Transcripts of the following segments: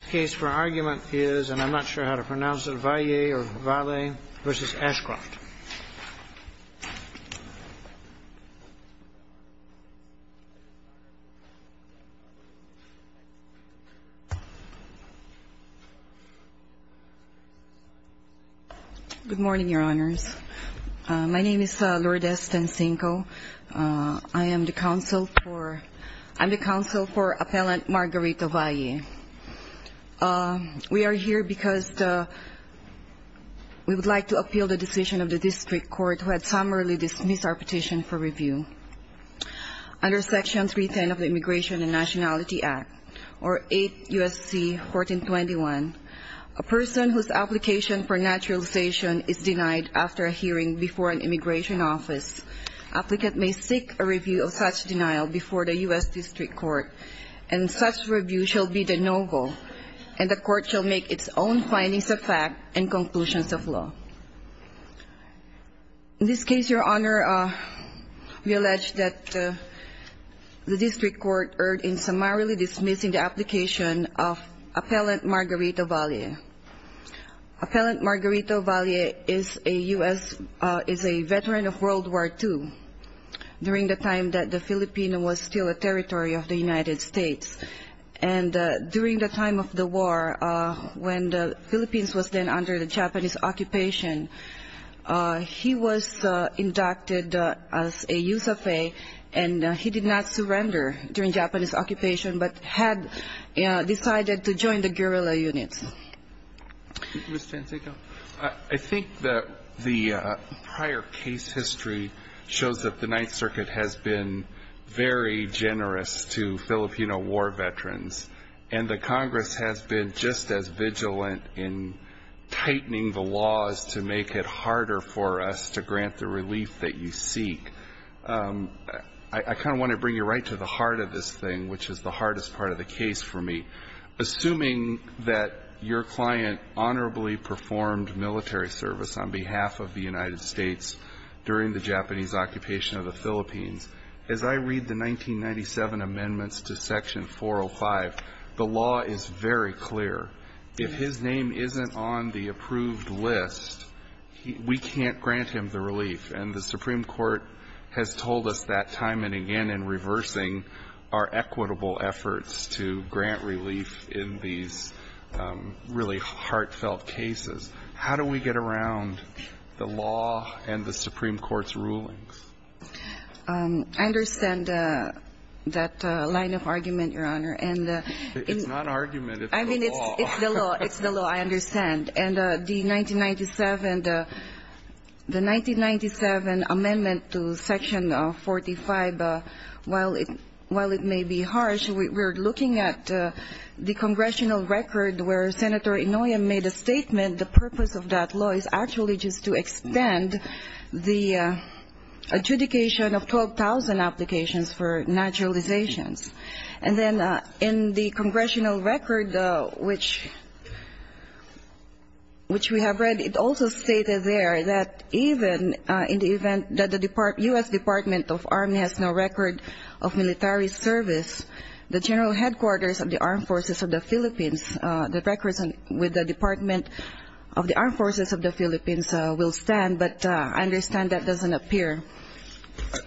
The case for argument is, and I'm not sure how to pronounce it, Valle v. Ashcroft. My name is Lourdes Stancinco. I am the counsel for Appellant Margarita Valle. We are here because we would like to appeal the decision of the District Court who had summarily dismissed our petition for review. Under Section 310 of the Immigration and Nationality Act, or 8 U.S.C. 1421, a person whose application for naturalization is denied after a hearing before an immigration office, applicant may seek a review of such denial before the U.S. fact and conclusions of law. In this case, Your Honor, we allege that the District Court erred in summarily dismissing the application of Appellant Margarita Valle. Appellant Margarita Valle is a U.S. veteran of World War II during the time that the Philippines was still a under the Japanese occupation. He was inducted as a use of a, and he did not surrender during Japanese occupation, but had decided to join the guerrilla units. Mr. Stancinco, I think that the prior case history shows that the Ninth Circuit has been very generous to Filipino war veterans, and the Congress has been just as vigilant in tightening the laws to make it harder for us to grant the relief that you seek. I kind of want to bring you right to the heart of this thing, which is the hardest part of the case for me. Assuming that your client honorably performed military service on behalf of the United States during the Japanese occupation of the Philippines, as I read the 1997 amendments to Section 405, the law is very clear. If his name isn't on the approved list, we can't grant him the relief. And the Supreme Court has told us that time and again in reversing our equitable efforts to grant relief in these really I understand that line of argument, Your Honor. It's not argument, it's the law. It's the law, I understand. And the 1997 amendment to Section 45, while it may be harsh, we're looking at the congressional record where Senator Inouye made a statement, the purpose of that law is actually to extend the adjudication of 12,000 applications for naturalizations. And then in the congressional record, which we have read, it also stated there that even in the event that the U.S. Department of Army has no record of military service, the General Headquarters of the Armed Forces of the Philippines, the Department of the Armed Forces of the Philippines will stand. But I understand that doesn't appear.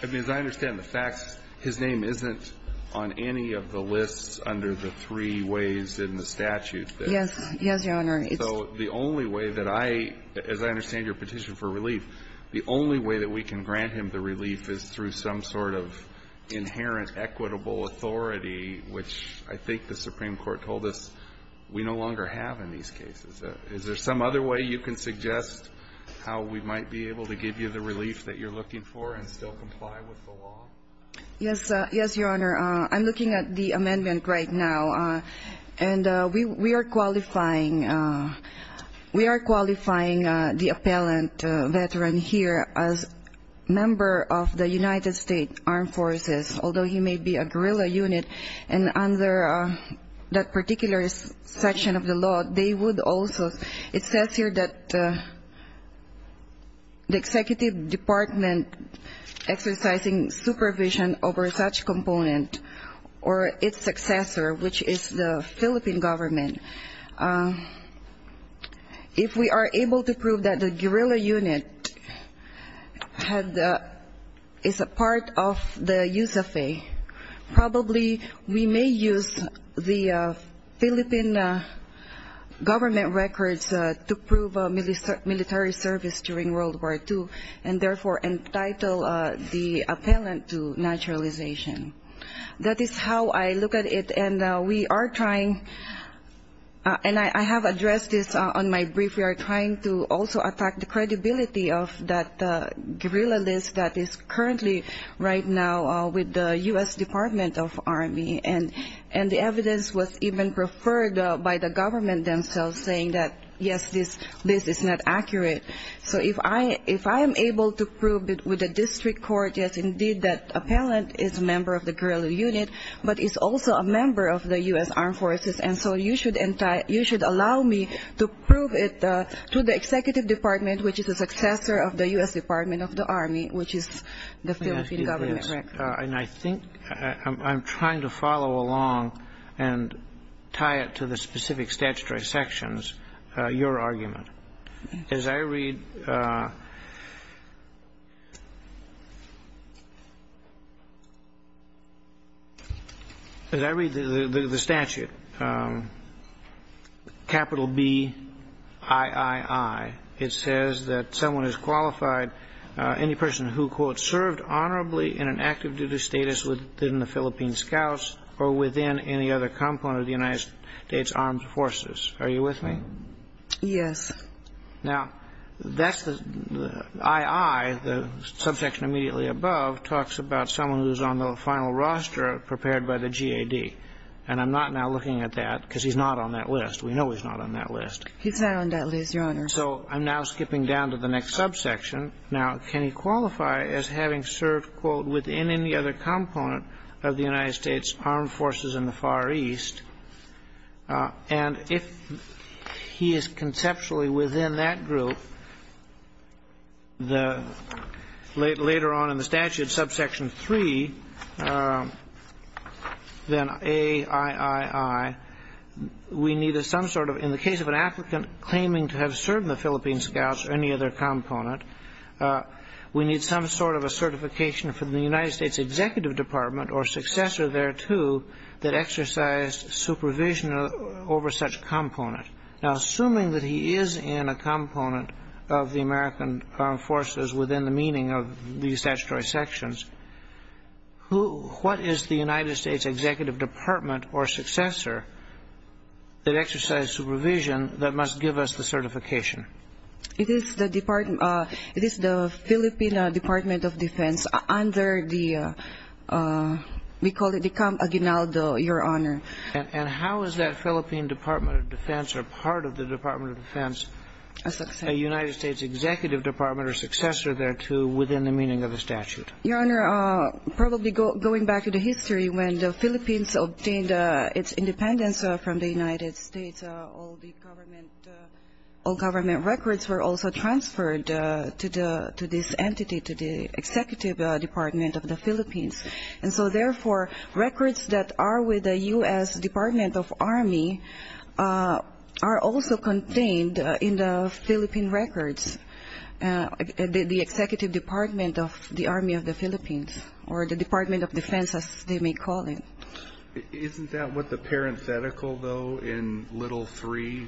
I mean, as I understand the facts, his name isn't on any of the lists under the three ways in the statute. Yes. Yes, Your Honor. So the only way that I, as I understand your petition for relief, the only way that we can grant him the relief that you're looking for and still comply with the law? Yes. Yes, Your Honor. I'm looking at the amendment right now. And we are qualifying, we are qualifying the appellant veteran here as a member of the United States Armed Forces, although he may be a guerrilla unit. And under that particular section of the law, they would also, it says here that the executive department exercising supervision over such component, or its successor, which is the Philippine government, if we are able to prove that the guerrilla unit is a part of the USAFE, probably the U.S. Department of the Armed Forces of the Philippines, we may use the Philippine government records to prove military service during World War II and therefore entitle the appellant to naturalization. That is how I look at it. And we are trying, and I have addressed this on my brief, we are trying to also attack the credibility of that guerrilla list that is currently right now with the U.S. Department of Army. And the evidence was even preferred by the government themselves saying that, yes, this list is not accurate. So if I am able to prove with the district court, yes, indeed, that appellant is a member of the guerrilla unit, but is also a member of the U.S. Armed Forces, and so you should allow me to prove it to the executive department, which is a successor of the U.S. Department of the Army, which is the U.S. Department of Army. And I think I am trying to follow along and tie it to the specific statutory sections, your argument. As I read the statute, capital B-I-I-I, it says that someone is qualified, any person who, quote, served honorably in an active duty status within the Philippine scouts or within any other component of the United States Armed Forces. Are you with me? Yes. Now, that's the I-I, the subsection immediately above, talks about someone who is on the final roster prepared by the G-A-D. And I'm not now looking at that, because he's not on that list. We know he's not on that list. He's not on that list, your Honor. I'm saying he's a member of the U.S. Armed Forces, and I'm referring to someone who is qualifying, quote, within any other component of the United States Armed Forces in the Far East, and if he is conceptually within that group, later on in the statute, subsection three, then A-I-I-I, we need some sort of, in the case of an applicant claiming to have served in the Philippine scouts or any other component, we need some sort of a certification of the military service. What is the certification from the United States Executive Department or successor thereto that exercised supervision over such component? Now, assuming that he is in a component of the American Armed Forces within the meaning of these statutory sections, who, what is the United States Executive Department or successor that exercised supervision that must give us the certification? It is the Philippine Department of Defense under the, we call it the Camp Aguinaldo, Your Honor. And how is that Philippine Department of Defense or part of the Department of Defense a United States Executive Department or successor thereto within the meaning of the statute? Your Honor, probably going back to the history, when the Philippines obtained its independence from the United States, all the government records were also transferred to this entity, to the Executive Department of the Philippines. And so, therefore, records that are with the U.S. Department of Army are also contained in the Philippine records, the Executive Department of the Army of the Philippines or the Department of Defense, as they may call it. Isn't that what the parenthetical, though, in little three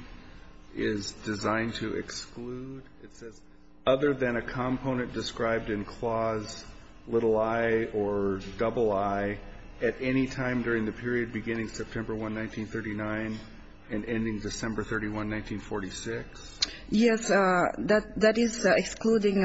is designed to exclude? It says, other than a component described in clause little I or double I at any time during the period beginning September 1, 1939 and ending December 31, 1946? Yes, that is excluding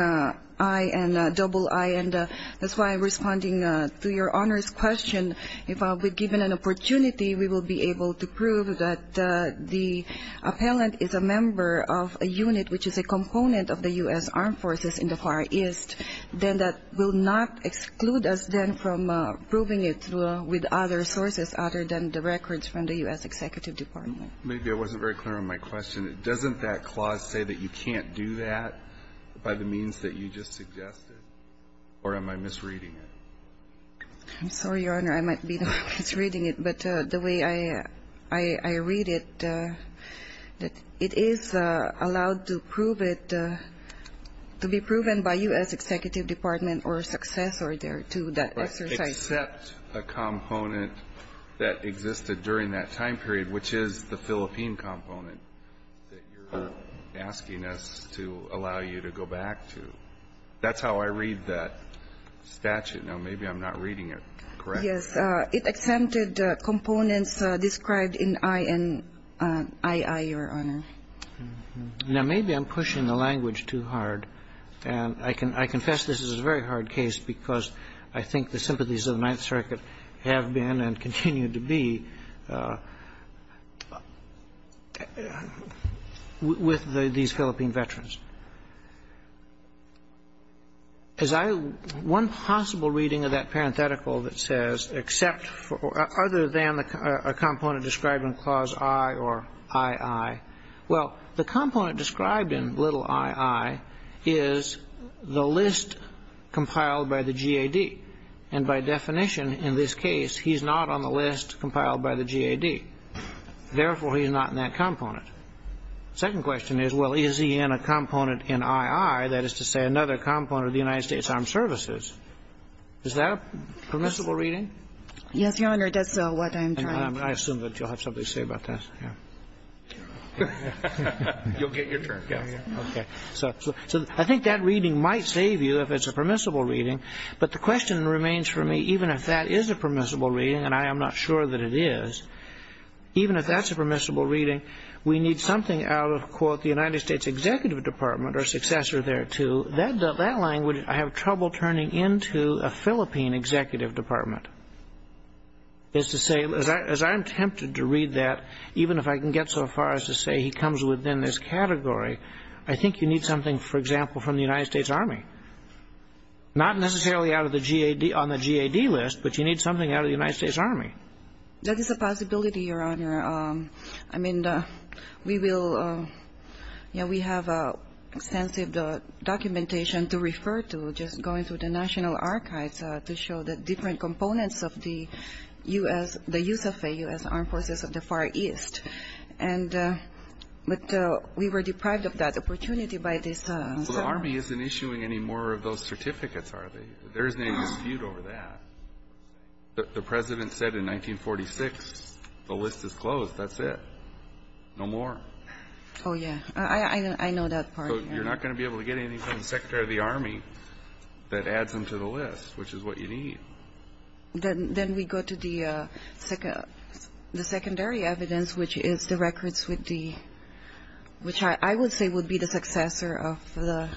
I and double I. And that's why I'm responding to Your Honor's question. If I'll be given an opportunity, we will be able to prove that the appellant is a member of a unit which is a component of the U.S. Armed Forces in the Far East, then that will not exclude us then from proving it with other sources other than the records from the U.S. Executive Department. Maybe I wasn't very clear on my question. Doesn't that clause say that you can't do that by the means that you just suggested? Or am I misreading it? I'm sorry, Your Honor. I might be misreading it. But the way I read it, it is allowed to prove it, to be proven by U.S. Executive Department or successor there to that exercise. But it doesn't accept a component that existed during that time period, which is the Philippine component that you're asking us to allow you to go back to. That's how I read that statute. Now, maybe I'm not reading it correctly. Yes. It accepted components described in I and II, Your Honor. Now, maybe I'm pushing the language too hard. And I confess this is a very hard case because I think the sympathies of the Ninth Circuit have been and continue to be with these Philippine veterans. One possible reading of that parenthetical that says except for other than a component described in Clause I or II, well, the component described in little II is the list compiled by the GAD. And by definition, in this case, he's not on the list compiled by the GAD. Therefore, he's not in that component. The second question is, well, is he in a component in II, that is to say, another component of the United States Armed Services? Is that a permissible reading? Yes, Your Honor. That's what I'm trying to do. I assume that you'll have something to say about that. You'll get your turn. Okay. So I think that reading might save you if it's a permissible reading. But the question remains for me, even if that is a permissible reading, and I am not sure that it is, even if that's a permissible reading, we need something out of, quote, the United States Executive Department or successor thereto. That language, I have trouble turning into a Philippine executive department. As I'm tempted to read that, even if I can get so far as to say he comes within this category, I think you need something, for example, from the United States Army. Not necessarily out of the GAD, on the GAD list, but you need something out of the United States Army. That is a possibility, Your Honor. I mean, we will, you know, we have extensive documentation to refer to, just going through the National Archives, to show the different components of the U.S., the use of the U.S. Armed Forces of the Far East. And, but we were deprived of that opportunity by this. So the Army isn't issuing any more of those certificates, are they? There isn't any dispute over that. The President said in 1946, the list is closed. That's it. No more. Oh, yeah. I know that part. So you're not going to be able to get anything from the Secretary of the Army that adds them to the list, which is what you need. Then we go to the secondary evidence, which is the records with the, which I would say would be the successor of the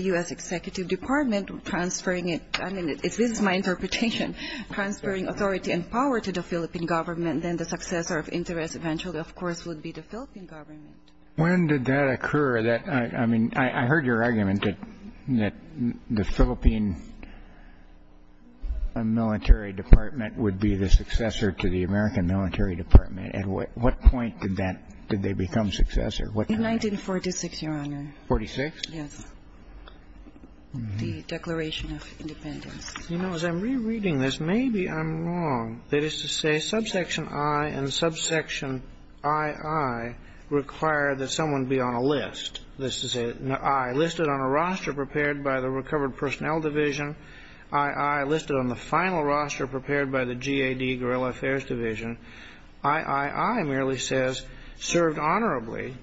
U.S. Executive Department transferring it. I mean, this is my interpretation, transferring authority and power to the Philippine government. Then the successor of interest eventually, of course, would be the Philippine government. When did that occur? I mean, I heard your argument that the Philippine military department would be the successor to the American military department. At what point did that, did they become successor? In 1946, Your Honor. 1946? Yes. The Declaration of Independence. You know, as I'm rereading this, maybe I'm wrong. That is to say, subsection I and subsection II require that someone be on a list. This is an I, listed on a roster prepared by the Recovered Personnel Division. II, listed on the final roster prepared by the GAD, Guerrilla Affairs Division. III merely says served honorably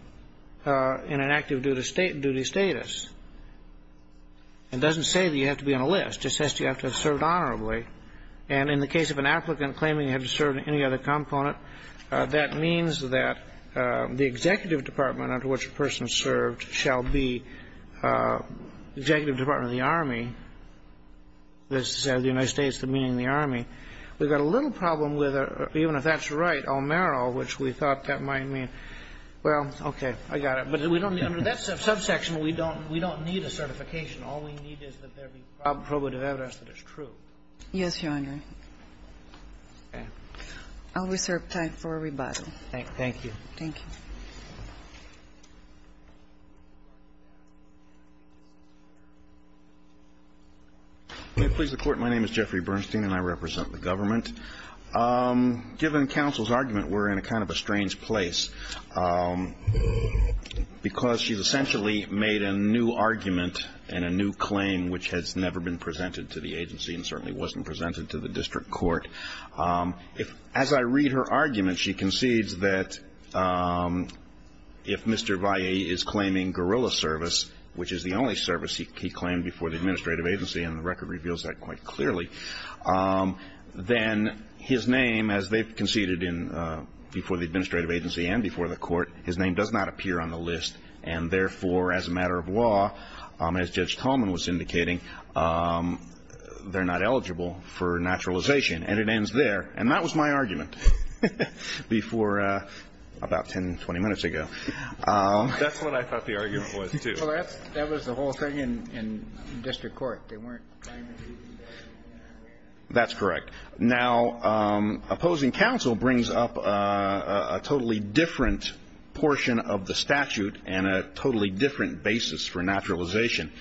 in an active duty status. It doesn't say that you have to be on a list. It says you have to have served honorably. And in the case of an applicant claiming he had to serve in any other component, that means that the executive department under which a person served shall be executive department of the Army. That's the United States, the meaning of the Army. We've got a little problem with, even if that's right, O'Marrow, which we thought that might mean. Well, okay. I got it. But under that subsection, we don't need a certification. All we need is that there be probative evidence that it's true. Yes, Your Honor. Okay. I'll reserve time for rebuttal. Thank you. Thank you. May it please the Court. My name is Jeffrey Bernstein, and I represent the government. Given counsel's argument, we're in a kind of a strange place, because she's essentially made a new argument and a new claim which has never been presented to the agency and certainly wasn't presented to the district court. As I read her argument, she concedes that if Mr. Vallee is claiming guerrilla service, which is the only service he claimed before the administrative agency, and the record reveals that quite clearly, then his name, as they've conceded before the administrative agency and before the court, his name does not appear on the list, and therefore, as a matter of law, as Judge Tallman was indicating, they're not eligible for naturalization. And it ends there. And that was my argument before about 10, 20 minutes ago. That's what I thought the argument was, too. Well, that was the whole thing in district court. They weren't trying to do that. That's correct. Now, opposing counsel brings up a totally different portion of the statute and a totally different basis for naturalization.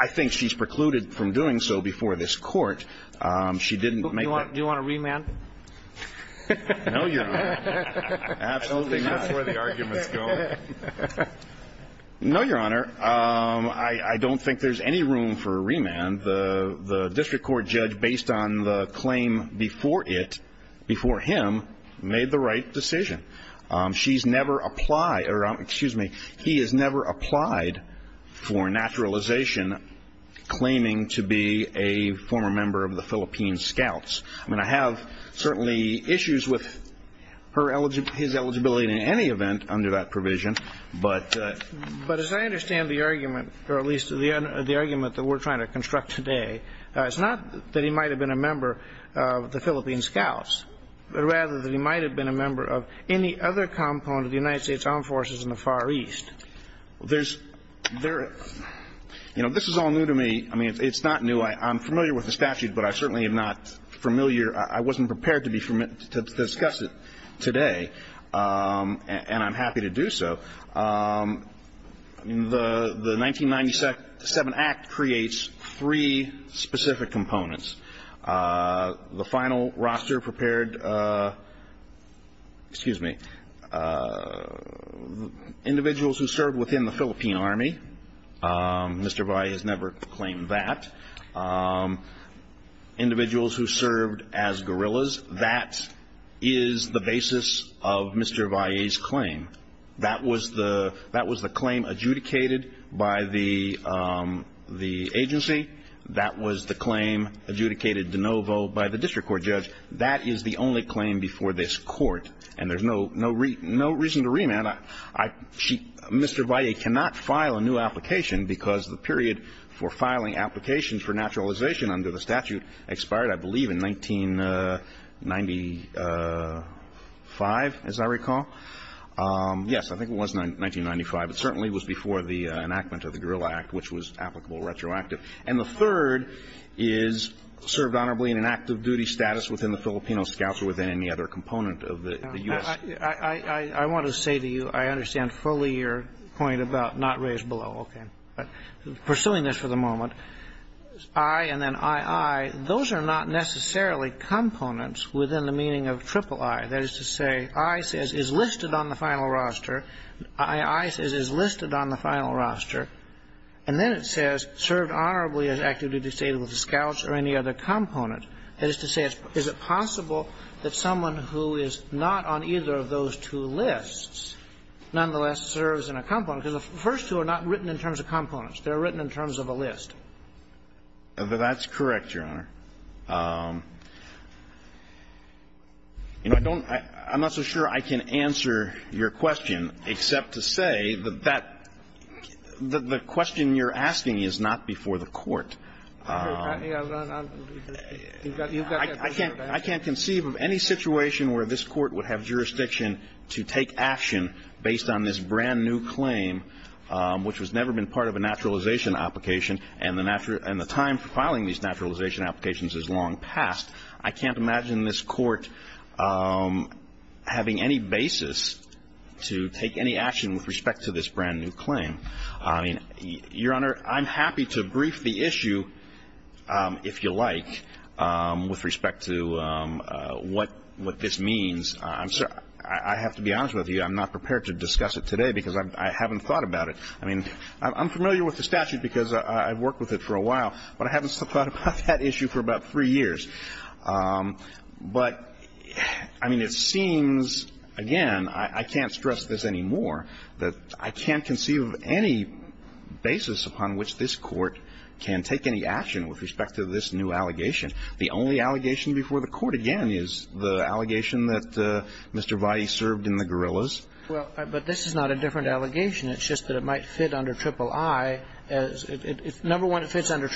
I think she's precluded from doing so before this court. She didn't make that. Do you want a remand? No, Your Honor. Absolutely not. I don't think that's where the argument's going. No, Your Honor. I don't think there's any room for a remand. And the district court judge, based on the claim before it, before him, made the right decision. She's never applied or, excuse me, he has never applied for naturalization claiming to be a former member of the Philippine Scouts. I mean, I have certainly issues with his eligibility in any event under that provision, but as I understand the argument, or at least the argument that we're trying to construct today, it's not that he might have been a member of the Philippine Scouts, but rather that he might have been a member of any other component of the United States Armed Forces in the Far East. There's, you know, this is all new to me. I mean, it's not new. I'm familiar with the statute, but I certainly am not familiar, I wasn't prepared to discuss it today, and I'm happy to do so. The 1997 Act creates three specific components. The final roster prepared, excuse me, individuals who served within the Philippine Army. Mr. Valle has never claimed that. Individuals who served as guerrillas. That is the basis of Mr. Valle's claim. That was the claim adjudicated by the agency. That was the claim adjudicated de novo by the district court judge. That is the only claim before this Court, and there's no reason to remand. Mr. Valle cannot file a new application because the period for filing applications for naturalization under the statute expired, I believe, in 1995, as I recall. Yes, I think it was 1995. It certainly was before the enactment of the Guerrilla Act, which was applicable retroactive. And the third is served honorably in an active duty status within the Filipino scouts or within any other component of the U.S. I want to say to you, I understand fully your point about not raised below. Okay. Pursuing this for the moment, I and then II, those are not necessarily components within the meaning of III. That is to say, I says is listed on the final roster. I says is listed on the final roster. And then it says served honorably in an active duty status with the scouts or any other component. That is to say, is it possible that someone who is not on either of those two lists nonetheless serves in a component? Because the first two are not written in terms of components. They're written in terms of a list. That's correct, Your Honor. I'm not so sure I can answer your question, except to say that the question you're asking is not before the Court. I can't conceive of any situation where this Court would have jurisdiction to take action based on this brand-new claim, which has never been part of a naturalization application and the time for filing these naturalization applications is long past. I can't imagine this Court having any basis to take any action with respect to this brand-new claim. Your Honor, I'm happy to brief the issue, if you like, with respect to what this means. I have to be honest with you, I'm not prepared to discuss it today because I haven't thought about it. I mean, I'm familiar with the statute because I've worked with it for a while, but I haven't thought about that issue for about three years. But, I mean, it seems, again, I can't stress this anymore, that I can't conceive of any basis upon which this Court can take any action with respect to this new allegation. The only allegation before the Court, again, is the allegation that Mr. Valle served in the guerrillas. Well, but this is not a different allegation. It's just that it might fit under triple I. Number one, it fits under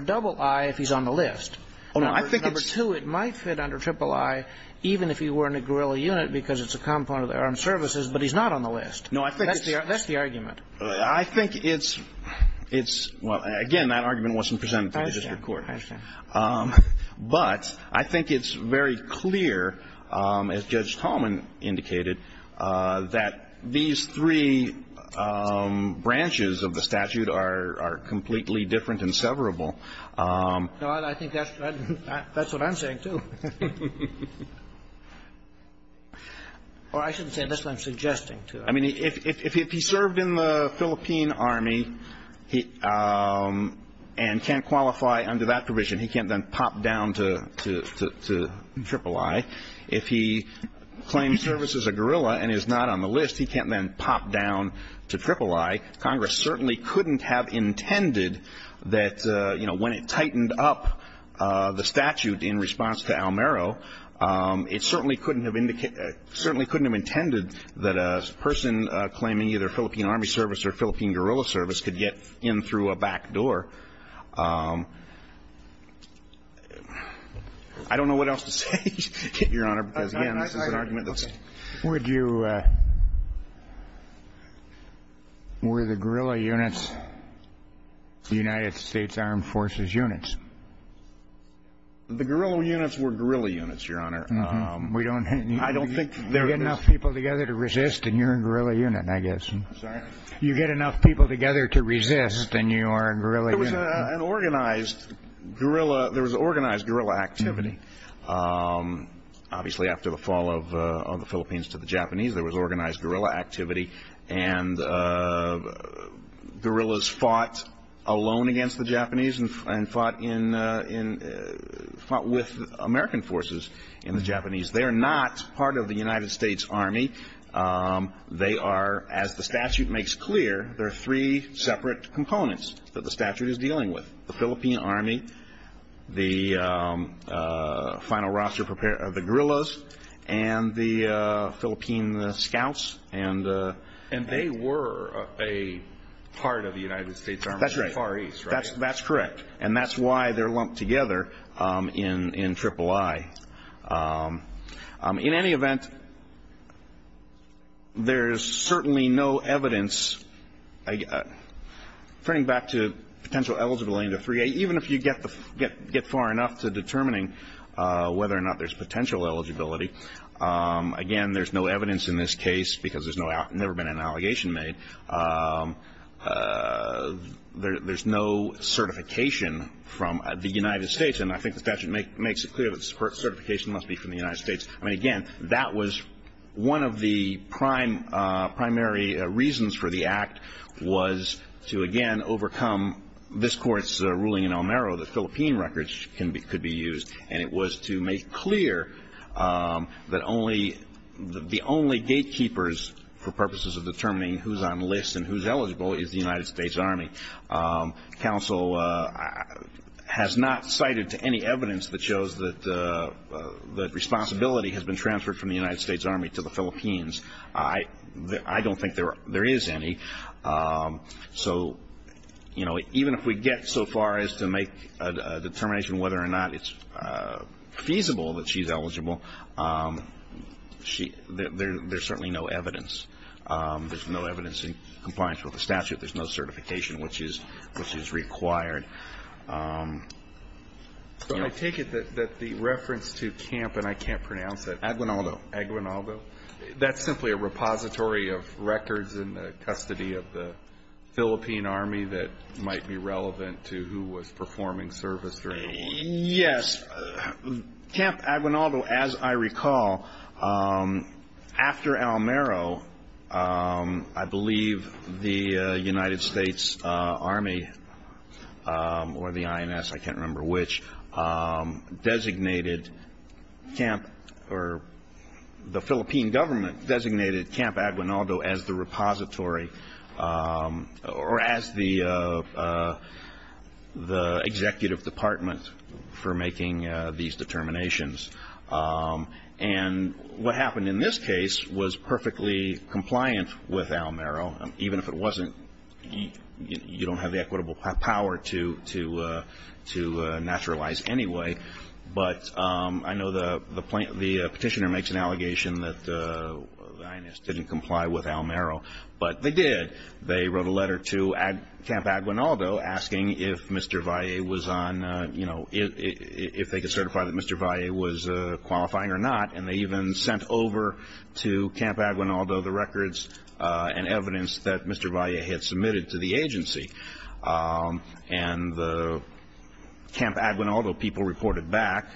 double I if he's on the list. Number two, it might fit under triple I even if he were in a guerrilla unit because it's a component of the armed services, but he's not on the list. That's the argument. I think it's, well, again, that argument wasn't presented to the district court. I understand. But I think it's very clear, as Judge Tallman indicated, that these three branches of the statute are completely different and severable. No, I think that's what I'm saying, too. Or I shouldn't say it. That's what I'm suggesting, too. I mean, if he served in the Philippine Army and can't qualify under that provision, he can't then pop down to triple I. If he claims service as a guerrilla and is not on the list, he can't then pop down to triple I. Congress certainly couldn't have intended that, you know, when it tightened up the statute in response to Almero, it certainly couldn't have intended that a person claiming either Philippine Army service or Philippine guerrilla service could get in through a back door. I don't know what else to say, Your Honor, because, again, this is an argument that's... Were the guerrilla units the United States Armed Forces units? The guerrilla units were guerrilla units, Your Honor. We don't need enough people together to resist, and you're a guerrilla unit, I guess. I'm sorry? You get enough people together to resist, and you are a guerrilla unit. It was an organized guerrilla. There was organized guerrilla activity. Obviously, after the fall of the Philippines to the Japanese, there was organized guerrilla activity, and guerrillas fought alone against the Japanese and fought with American forces in the Japanese. They are not part of the United States Army. They are, as the statute makes clear, there are three separate components that the statute is dealing with, the Philippine Army, the final roster of the guerrillas, and the Philippine scouts. And they were a part of the United States Army in the Far East, right? That's correct, and that's why they're lumped together in III. In any event, there's certainly no evidence, turning back to potential eligibility into III-A, even if you get far enough to determining whether or not there's potential eligibility. Again, there's no evidence in this case because there's never been an allegation made. There's no certification from the United States, and I think the statute makes it clear that certification must be from the United States. I mean, again, that was one of the primary reasons for the act was to, again, overcome this Court's ruling in El Mero that Philippine records could be used, and it was to make clear that the only gatekeepers for purposes of determining who's on lists and who's eligible is the United States Army. Counsel has not cited any evidence that shows that responsibility has been transferred from the United States Army to the Philippines. I don't think there is any. So even if we get so far as to make a determination whether or not it's feasible that she's eligible, there's certainly no evidence. There's no evidence in compliance with the statute. There's no certification, which is required. I take it that the reference to Camp, and I can't pronounce it. Aguinaldo. Aguinaldo. That's simply a repository of records in the custody of the Philippine Army that might be relevant to who was performing service during the war. Yes. Camp Aguinaldo, as I recall, after El Mero, I believe the United States Army or the INS, I can't remember which, designated Camp or the Philippine government designated Camp Aguinaldo as the repository or as the executive department for making these determinations. And what happened in this case was perfectly compliant with El Mero. Even if it wasn't, you don't have the equitable power to naturalize anyway. But I know the petitioner makes an allegation that the INS didn't comply with El Mero, but they did. They wrote a letter to Camp Aguinaldo asking if Mr. Valle was on, you know, if they could certify that Mr. Valle was qualifying or not, and they even sent over to Camp Aguinaldo the records and evidence that Mr. Valle had submitted to the agency. And the Camp Aguinaldo people reported back,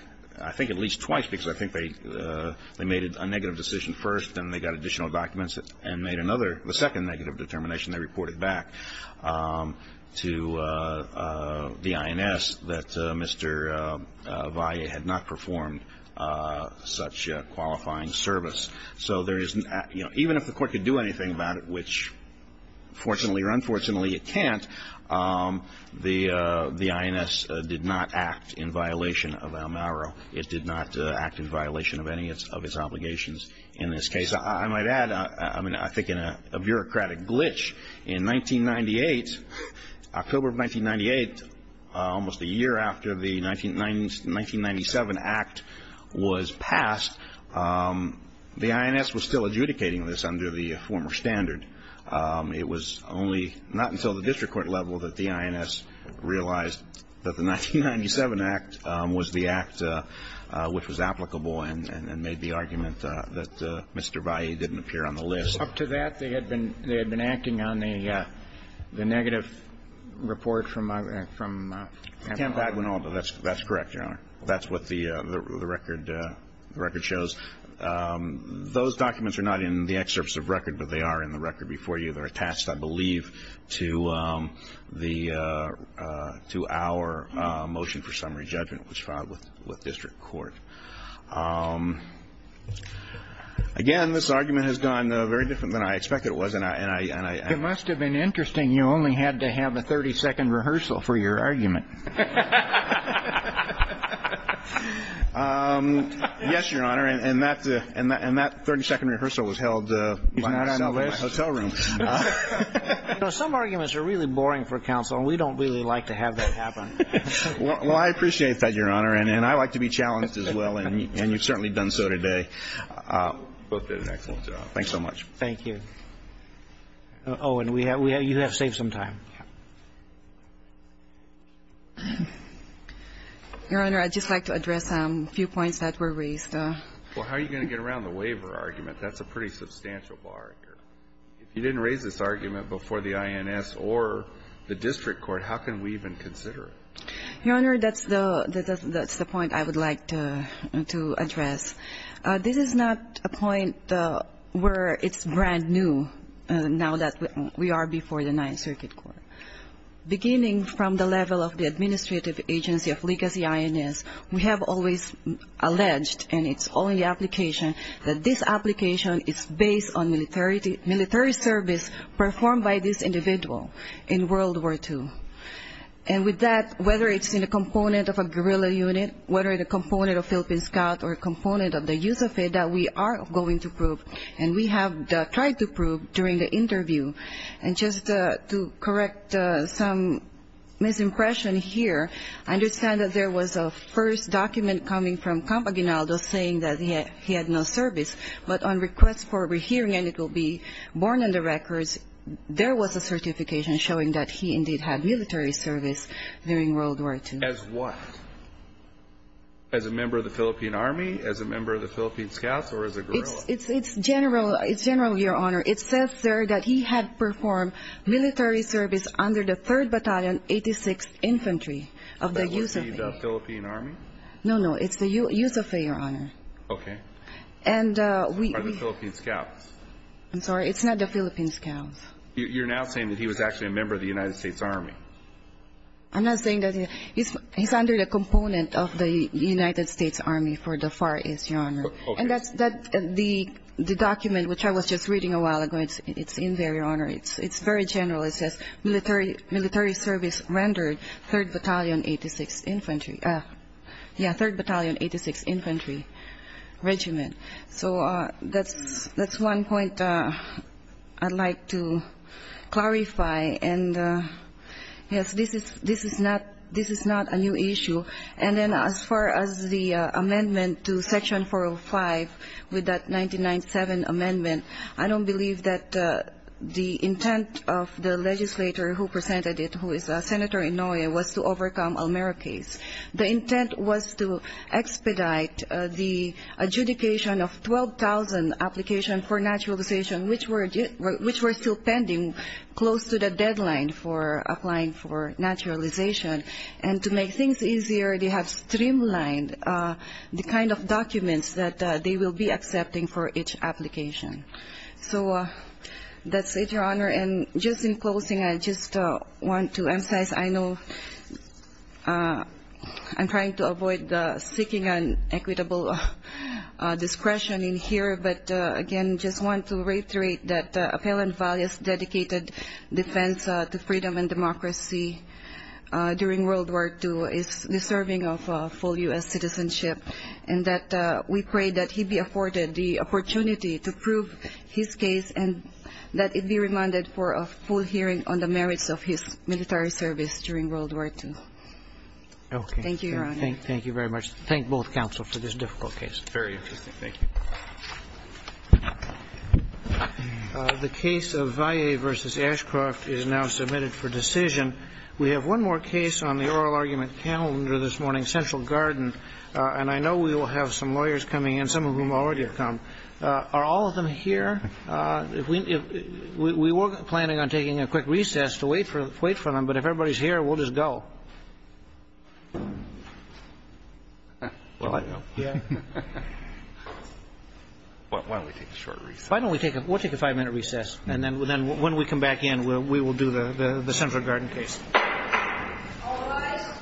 I think at least twice, because I think they made a negative decision first and they got additional documents and made another, the second negative determination. They reported back to the INS that Mr. Valle had not performed such qualifying service. So there is, you know, even if the Court could do anything about it, which fortunately or unfortunately it can't, the INS did not act in violation of El Mero. It did not act in violation of any of its obligations in this case. I might add, I mean, I think in a bureaucratic glitch, in 1998, October of 1998, almost a year after the 1997 Act was passed, the INS was still adjudicating this under the former standard. It was only not until the district court level that the INS realized that the 1997 Act was the act which was applicable and made the argument that Mr. Valle didn't appear on the list. Up to that, they had been acting on the negative report from Camp Aguinaldo. Camp Aguinaldo, that's correct, Your Honor. That's what the record shows. Those documents are not in the excerpts of record, but they are in the record before you. And it's not in the record. But unfortunately, they're attached, I believe, to the, to our motion for summary judgment, which filed with district court. Again, this argument has gone very different than I expected it was and I... It must have been interesting you only had to have a 30-second rehearsal for your argument. Yes, Your Honor. And that 30-second rehearsal was held by myself in my hotel room. You know, some arguments are really boring for counsel and we don't really like to have that happen. Well, I appreciate that, Your Honor, and I like to be challenged as well, and you've certainly done so today. Both did an excellent job. Thanks so much. Thank you. Oh, and you have saved some time. Your Honor, I'd just like to address a few points that were raised. Well, how are you going to get around the waiver argument? That's a pretty substantial bar here. If you didn't raise this argument before the INS or the district court, how can we even consider it? Your Honor, that's the point I would like to address. This is not a point where it's brand new now that we are before the Ninth Circuit Court. Beginning from the level of the administrative agency of Legacy INS, we have always alleged, and it's all in the application, that this application is based on military service performed by this individual in World War II. And with that, whether it's in a component of a guerrilla unit, whether it's a component of Philippine Scout or a component of the USAFED that we are going to prove, and we have tried to prove during the interview. And just to correct some misimpression here, I understand that there was a first document coming from Campaginaldo saying that he had no service, but on request for a rehearing, and it will be born in the records, there was a certification showing that he indeed had military service during World War II. As what? As a member of the Philippine Army, as a member of the Philippine Scouts, or as a guerrilla? It's general, Your Honor. It says there that he had performed military service under the 3rd Battalion, 86th Infantry of the USAFED. Is that USAFED the Philippine Army? No, no. It's the USAFED, Your Honor. Okay. And we... Or the Philippine Scouts. I'm sorry. It's not the Philippine Scouts. You're now saying that he was actually a member of the United States Army. I'm not saying that. He's under the component of the United States Army for the far east, Your Honor. Okay. And that's the document which I was just reading a while ago. It's in there, Your Honor. It's very general. It says military service rendered 3rd Battalion, 86th Infantry. Yeah, 3rd Battalion, 86th Infantry Regiment. So that's one point I'd like to clarify. And, yes, this is not a new issue. And then as far as the amendment to Section 405 with that 1997 amendment, I don't believe that the intent of the legislator who presented it, who is Senator Inouye, was to overcome Almera case. The intent was to expedite the adjudication of 12,000 applications for naturalization, which were still pending close to the deadline for applying for naturalization. And to make things easier, they have streamlined the kind of documents that they will be accepting for each application. So that's it, Your Honor. And just in closing, I just want to emphasize, I know I'm trying to avoid seeking an equitable discretion in here, but, again, just want to reiterate that Appellant Valles' dedicated defense to freedom and democracy during World War II is deserving of full U.S. citizenship, and that we pray that he be afforded the opportunity to prove his case and that it be remanded for a full hearing on the merits of his military service during World War II. Thank you, Your Honor. Thank you very much. Thank both counsel for this difficult case. Very interesting. Thank you. The case of Valles v. Ashcroft is now submitted for decision. We have one more case on the oral argument calendar this morning, Central Garden, and I know we will have some lawyers coming in, some of whom already have come. Are all of them here? We were planning on taking a quick recess to wait for them, but if everybody's here, we'll just go. Why don't we take a short recess? Why don't we take a five-minute recess, and then when we come back in, we will do the Central Garden case. All rise.